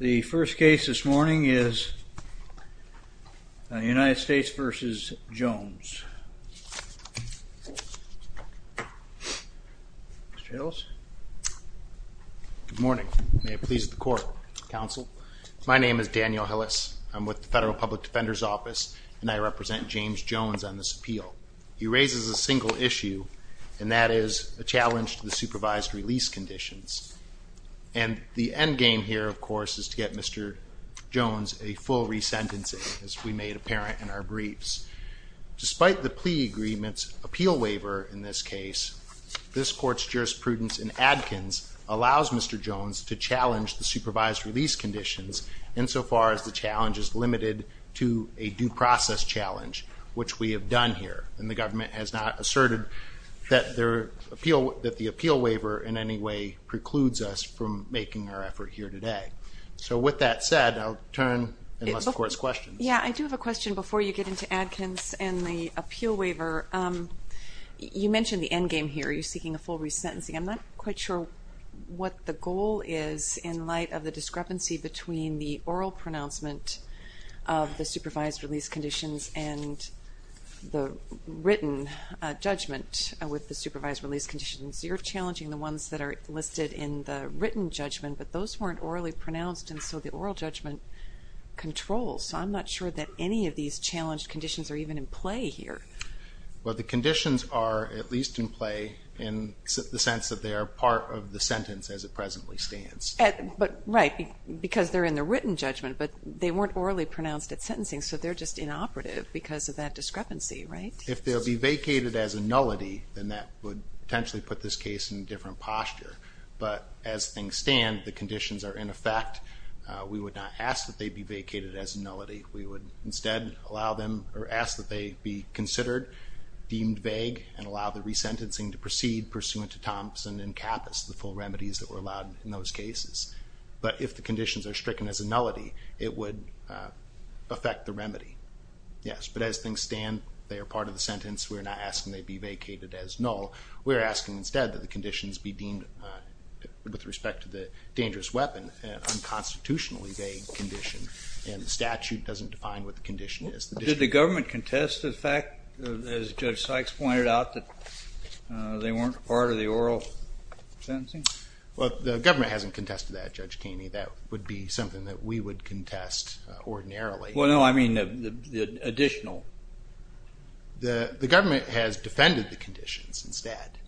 The first case this morning is United States v. Jones. My name is Daniel Hillis. I'm with the Federal Public Defender's Office and I represent James Jones on this appeal. He raises a single issue, and that is a challenge to the supervised release conditions. And the end game here, of course, is to get Mr. Jones a full resentencing, as we made apparent in our briefs. Despite the plea agreement's appeal waiver in this case, this Court's jurisprudence in Adkins allows Mr. Jones to challenge the supervised release conditions, insofar as the challenge is limited to a due process challenge, which we have done here. And the government has not asserted that the appeal waiver in any way precludes us from making our effort here today. So with that said, I'll turn and let the Court's questions. Yeah, I do have a question before you get into Adkins and the appeal waiver. You mentioned the end game here. Are you seeking a full resentencing? I'm not quite sure what the goal is in light of the discrepancy between the oral pronouncement of the supervised release conditions and the written judgment with the supervised release conditions. You're challenging the ones that are listed in the written judgment, but those weren't orally pronounced, and so the oral judgment controls. So I'm not sure that any of these challenged conditions are even in play here. Well, the conditions are at least in play in the sense that they are part of the sentence as it presently stands. Right, because they're in the written judgment, but they weren't orally pronounced at sentencing, so they're just inoperative because of that discrepancy, right? If they'll be vacated as a nullity, then that would potentially put this case in a different posture. But as things stand, the conditions are in effect. We would not ask that they be vacated as a nullity. We would instead allow them or ask that they be considered deemed vague and allow the resentencing to proceed pursuant to Thompson and Kappas, the full remedies that were allowed in those cases. But if the conditions are stricken as a nullity, it would affect the remedy. Yes, but as things stand, they are part of the sentence. We're not asking they be vacated as null. We're asking instead that the conditions be deemed, with respect to the dangerous weapon, an unconstitutionally vague condition and the statute doesn't define what the condition is. Did the government contest the fact, as Judge Sykes pointed out, that they weren't part of the oral sentencing? Well, the government hasn't contested that, Judge Keeney. That would be something that we would contest ordinarily. Well, no, I mean the additional. The government has defended the conditions instead,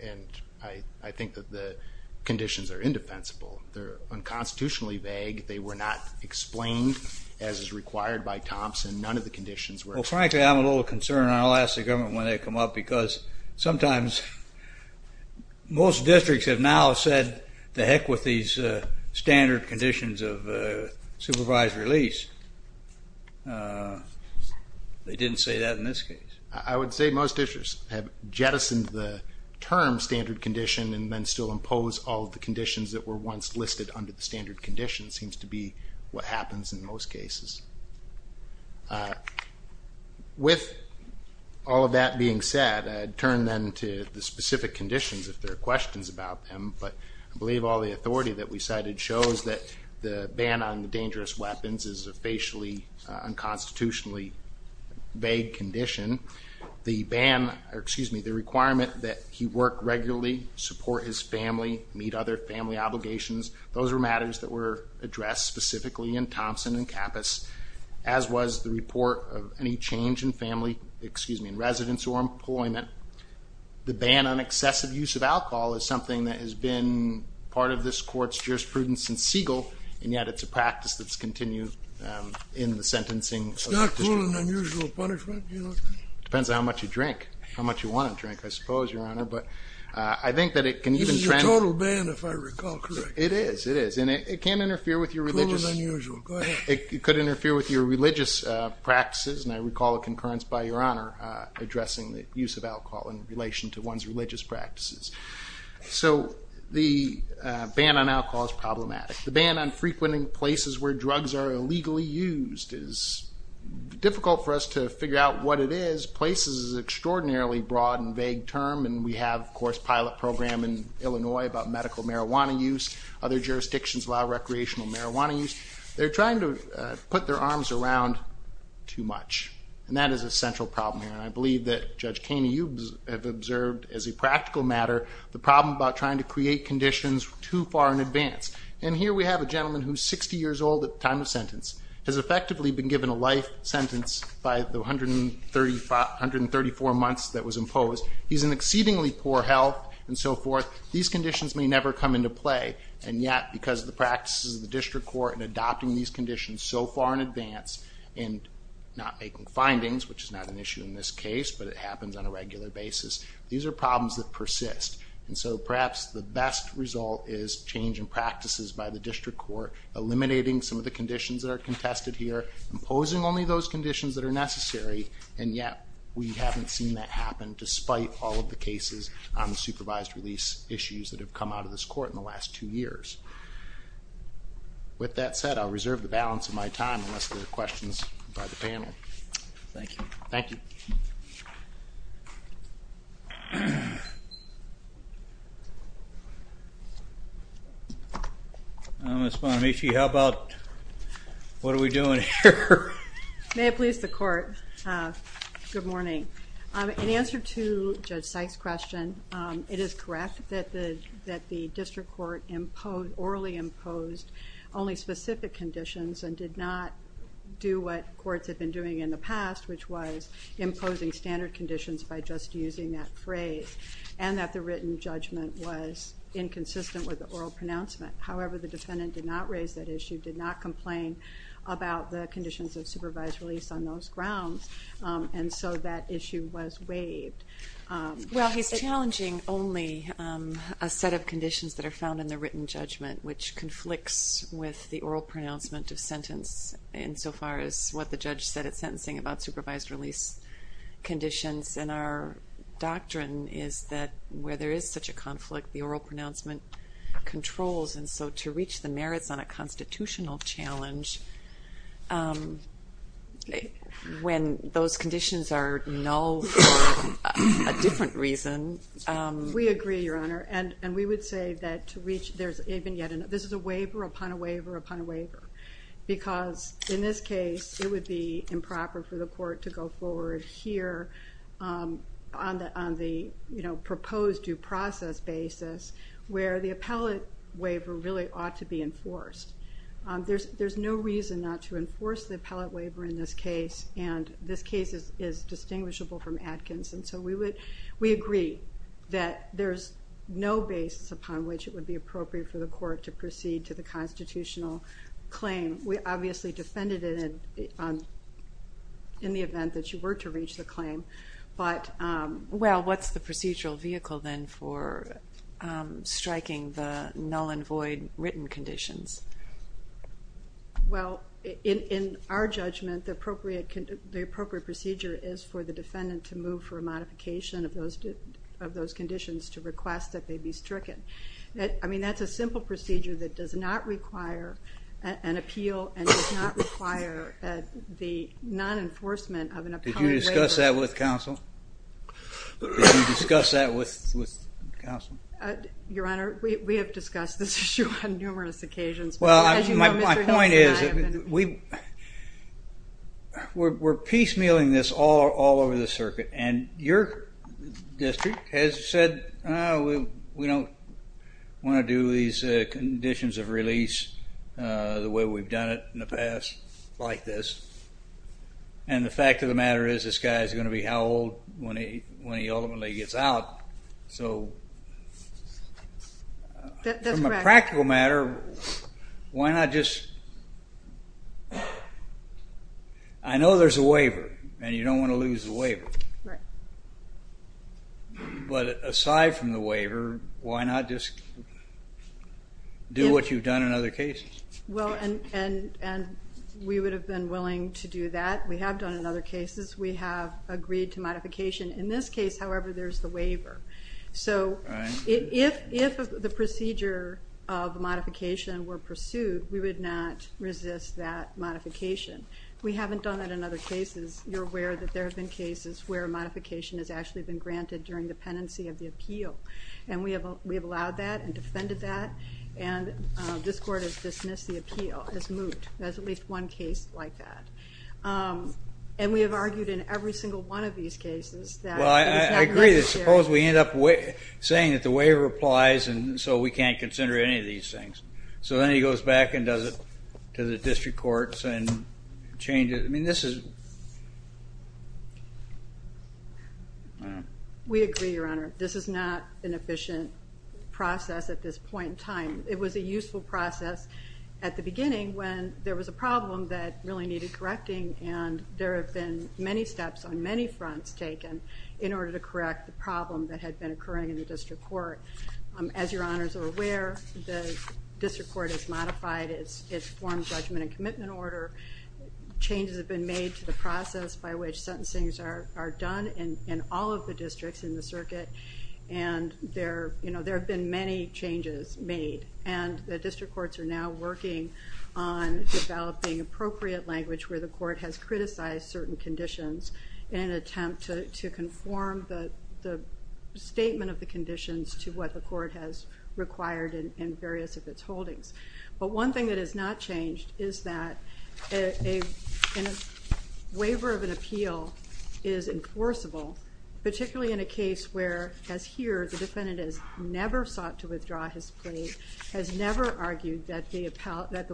and I think that the conditions are indefensible. They're unconstitutionally vague. They were not explained as is required by Thompson. None of the conditions were. Well, frankly, I'm a little concerned, and I'll ask the government when they come up, because sometimes most districts have now said, to heck with these standard conditions of supervised release. They didn't say that in this case. I would say most districts have jettisoned the term standard condition and then still impose all of the conditions that were once listed under the standard condition, seems to be what happens in most cases. With all of that being said, I'd turn then to the specific conditions, if there are questions about them, but I believe all the authority that we cited shows that the ban on dangerous weapons is a facially, unconstitutionally vague condition. The requirement that he work regularly, support his family, meet other family obligations, those are matters that were addressed specifically in Thompson and Kappus, as was the report of any change in family, excuse me, in residence or employment. The ban on excessive use of alcohol is something that has been part of this court's jurisprudence since Siegel, and yet it's a practice that's continued in the sentencing. It's not cruel and unusual punishment, you know. Depends on how much you drink, how much you want to drink, I suppose, Your Honor, but I think that it can even trend. It's a total ban, if I recall correctly. It is, it is, and it can interfere with your religious practices, and I recall a concurrence by Your Honor addressing the use of alcohol in relation to one's religious practices. So the ban on alcohol is problematic. The ban on frequenting places where drugs are illegally used is difficult for us to figure out what it is. Places is an extraordinarily broad and vague term, and we have, of course, a pilot program in Illinois about medical marijuana use. Other jurisdictions allow recreational marijuana use. They're trying to put their arms around too much, and that is a central problem here, and I believe that Judge Kaney, you have observed as a practical matter the problem about trying to create conditions too far in advance. And here we have a gentleman who's 60 years old at the time of sentence, has effectively been given a life sentence by the 134 months that was imposed. He's in exceedingly poor health and so forth. These conditions may never come into play, and yet because of the practices of the district court in adopting these conditions so far in advance and not making findings, which is not an issue in this case, but it happens on a regular basis, these are problems that persist. And so perhaps the best result is change in practices by the district court, eliminating some of the conditions that are contested here, imposing only those conditions that are necessary, and yet we haven't seen that happen despite all of the cases on the supervised release issues that have come out of this court in the last two years. With that said, I'll reserve the balance of my time unless there are questions by the panel. Thank you. Thank you. Ms. Bonamici, how about what are we doing here? May it please the Court, good morning. In answer to Judge Sykes' question, it is correct that the district court orally imposed only specific conditions and did not do what courts have been doing in the past, which was imposing standard conditions by just using that phrase, and that the written judgment was inconsistent with the oral pronouncement. However, the defendant did not raise that issue, did not complain about the conditions of supervised release on those grounds, and so that issue was waived. Well, he's challenging only a set of conditions that are found in the written judgment, which conflicts with the oral pronouncement of sentence insofar as what the judge said at sentencing about supervised release conditions, and our doctrine is that where there is such a conflict, the oral pronouncement controls, and so to reach the merits on a constitutional challenge when those conditions are null for a different reason. We agree, Your Honor, and we would say that this is a waiver upon a waiver upon a waiver because in this case it would be improper for the court to go forward here on the proposed due process basis where the appellate waiver really ought to be enforced. There's no reason not to enforce the appellate waiver in this case, and this case is distinguishable from Atkins, and so we agree that there's no basis upon which it would be appropriate for the court to proceed to the constitutional claim. We obviously defended it in the event that you were to reach the claim, but what's the procedural vehicle then for striking the null and void written conditions? Well, in our judgment, the appropriate procedure is for the defendant to move for a modification of those conditions to request that they be stricken. I mean, that's a simple procedure that does not require an appeal and does not require the non-enforcement of an appellate waiver. Did you discuss that with counsel? Did you discuss that with counsel? Your Honor, we have discussed this issue on numerous occasions. Well, my point is we're piecemealing this all over the circuit, and your district has said, we don't want to do these conditions of release the way we've done it in the past like this, and the fact of the matter is this guy is going to be how old when he ultimately gets out, so from a practical matter, why not just? I know there's a waiver, and you don't want to lose the waiver, but aside from the waiver, why not just do what you've done in other cases? Well, and we would have been willing to do that. We have done it in other cases. We have agreed to modification. In this case, however, there's the waiver. So if the procedure of modification were pursued, we would not resist that modification. We haven't done that in other cases. You're aware that there have been cases where modification has actually been granted during the pendency of the appeal, and we have allowed that and defended that, and this Court has dismissed the appeal as moot. There's at least one case like that. And we have argued in every single one of these cases that it's not necessary. Well, I agree that suppose we end up saying that the waiver applies and so we can't consider any of these things. So then he goes back and does it to the district courts and changes it. I mean, this is... We agree, Your Honor. This is not an efficient process at this point in time. It was a useful process at the beginning when there was a problem that really needed correcting, and there have been many steps on many fronts taken in order to correct the problem that had been occurring in the district court. As Your Honors are aware, the district court has modified its form, judgment, and commitment order. Changes have been made to the process by which sentencing are done in all of the districts in the circuit, and there have been many changes made. And the district courts are now working on developing appropriate language where the court has criticized certain conditions in an attempt to conform the statement of the conditions to what the court has required in various of its holdings. But one thing that has not changed is that a waiver of an appeal is enforceable, particularly in a case where, as here, the defendant has never sought to withdraw his plea, has never argued that the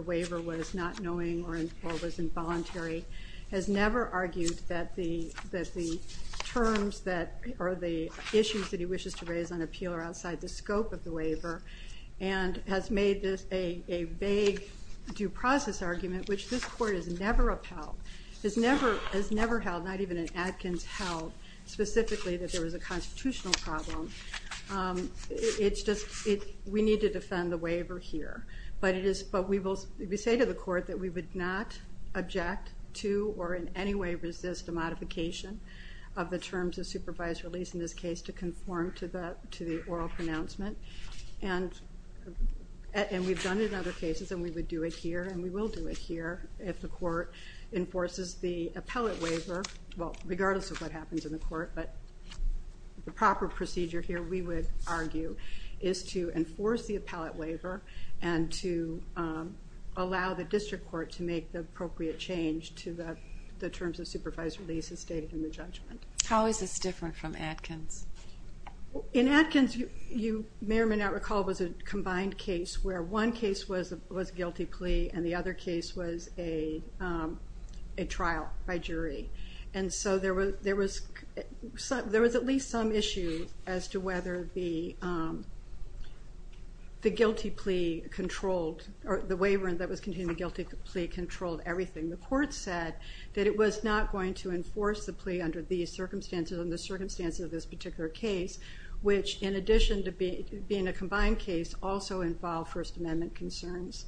waiver was not knowing or was involuntary, has never argued that the terms or the issues that he wishes to raise on appeal are outside the scope of the waiver, and has made this a vague due process argument which this court has never upheld, has never held, not even in Atkins held, specifically that there was a constitutional problem. It's just we need to defend the waiver here. But we say to the court that we would not object to or in any way resist the modification of the terms of supervised release in this case to conform to the oral pronouncement. And we've done it in other cases, and we would do it here, and we will do it here if the court enforces the appellate waiver, well, regardless of what happens in the court. But the proper procedure here, we would argue, is to enforce the appellate waiver and to allow the district court to make the appropriate change to the terms of supervised release as stated in the judgment. How is this different from Atkins? In Atkins, you may or may not recall, it was a combined case where one case was a guilty plea and the other case was a trial by jury. And so there was at least some issue as to whether the guilty plea controlled or the waiver that was contained in the guilty plea controlled everything. The court said that it was not going to enforce the plea under the circumstances of this particular case, which, in addition to being a combined case, also involved First Amendment concerns.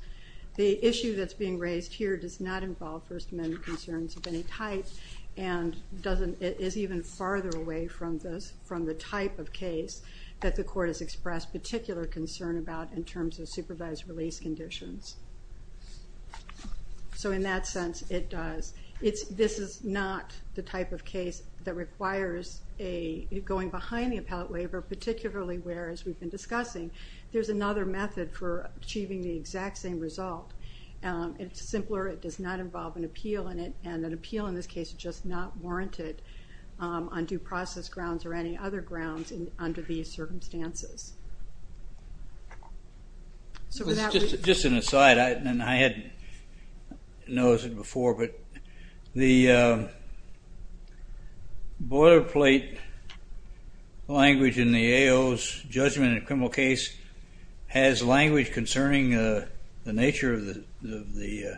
The issue that's being raised here does not involve First Amendment concerns of any type and is even farther away from the type of case that the court has expressed particular concern about in terms of supervised release conditions. So in that sense, it does. This is not the type of case that requires going behind the appellate waiver, particularly where, as we've been discussing, there's another method for achieving the exact same result. It's simpler, it does not involve an appeal in it, and an appeal in this case is just not warranted on due process grounds or any other grounds under these circumstances. Just an aside, and I hadn't noticed it before, but the boilerplate language in the AO's judgment in a criminal case has language concerning the nature of the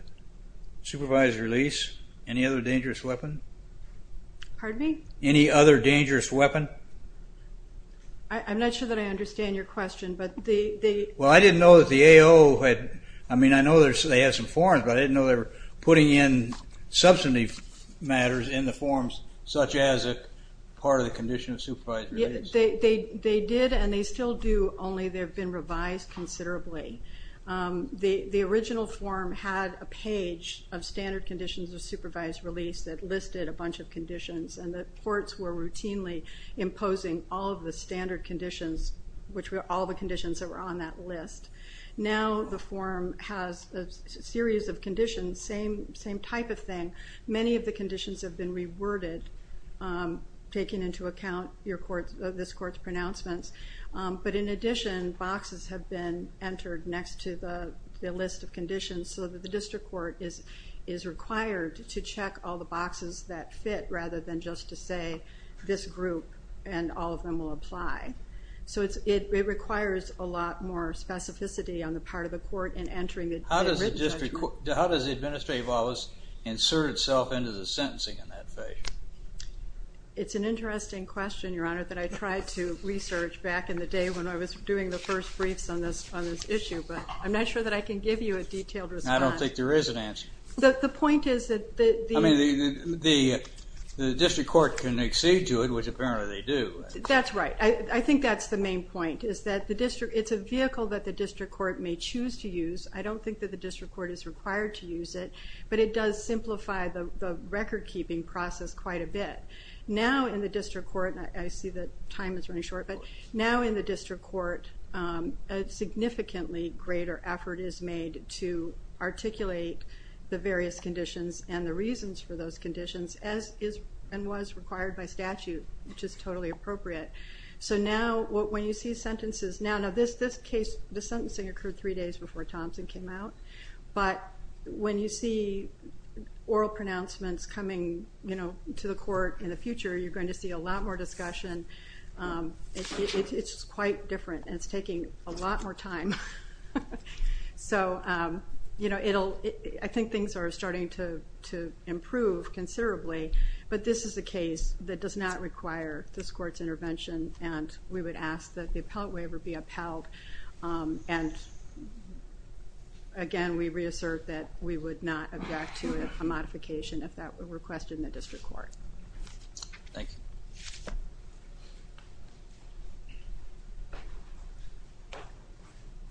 supervised release. Any other dangerous weapon? Pardon me? Any other dangerous weapon? I'm not sure that I understand your question, but they... Well, I didn't know that the AO had... I mean, I know they had some forms, but I didn't know they were putting in substantive matters in the forms such as a part of the condition of supervised release. They did, and they still do, only they've been revised considerably. The original form had a page of standard conditions of supervised release that listed a bunch of conditions, and the courts were routinely imposing all of the standard conditions, which were all the conditions that were on that list. Now the form has a series of conditions, same type of thing. Many of the conditions have been reworded, taking into account this court's pronouncements. But in addition, boxes have been entered next to the list of conditions so that the district court is required to check all the boxes that fit rather than just to say this group and all of them will apply. So it requires a lot more specificity on the part of the court in entering it. How does the administrative office insert itself into the sentencing in that way? It's an interesting question, Your Honor, that I tried to research back in the day when I was doing the first briefs on this issue, but I'm not sure that I can give you a detailed response. I don't think there is an answer. The point is that the... I mean, the district court can accede to it, which apparently they do. That's right. I think that's the main point, is that it's a vehicle that the district court may choose to use. I don't think that the district court is required to use it, but it does simplify the record-keeping process quite a bit. Now in the district court, and I see that time is running short, but now in the district court, a significantly greater effort is made to articulate the various conditions and the reasons for those conditions, as is and was required by statute, which is totally appropriate. So now when you see sentences... Now this case, the sentencing occurred three days before Thompson came out, but when you see oral pronouncements coming to the court in the future, you're going to see a lot more discussion. It's quite different, and it's taking a lot more time. So I think things are starting to improve considerably, but this is a case that does not require this court's intervention, and we would ask that the appellate waiver be upheld. And again, we reassert that we would not object to a modification if that were requested in the district court. Thank you.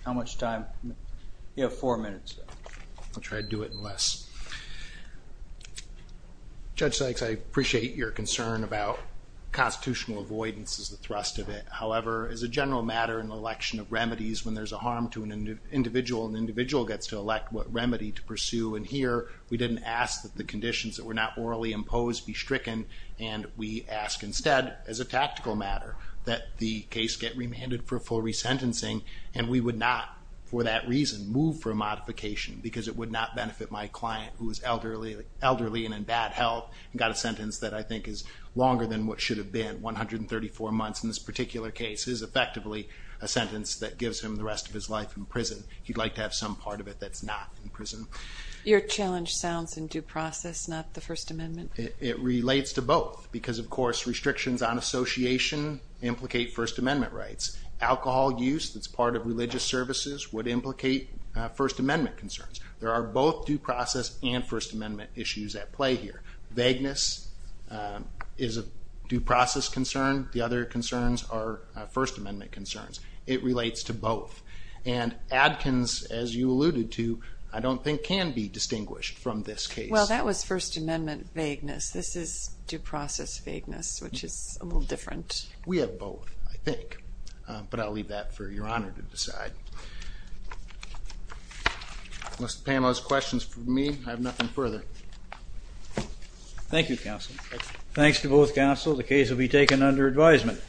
How much time? You have four minutes. I'll try to do it in less. Judge Sykes, I appreciate your concern about constitutional avoidance as the thrust of it. However, as a general matter in the election of remedies, when there's a harm to an individual, an individual gets to elect what remedy to pursue, and here we didn't ask that the conditions that were not orally imposed be stricken, and we ask instead, as a tactical matter, that the case get remanded for full resentencing, and we would not for that reason move for a modification because it would not benefit my client who is elderly and in bad health and got a sentence that I think is longer than what should have been, 134 months in this particular case, is effectively a sentence that gives him the rest of his life in prison. He'd like to have some part of it that's not in prison. Your challenge sounds in due process, not the First Amendment. It relates to both because, of course, restrictions on association implicate First Amendment rights. Alcohol use that's part of religious services would implicate First Amendment concerns. There are both due process and First Amendment issues at play here. Vagueness is a due process concern. The other concerns are First Amendment concerns. It relates to both, and Adkins, as you alluded to, I don't think can be distinguished from this case. Well, that was First Amendment vagueness. This is due process vagueness, which is a little different. We have both, I think. But I'll leave that for Your Honor to decide. Unless Pam has questions for me, I have nothing further. Thank you, counsel. Thanks to both counsel, the case will be taken under advisement.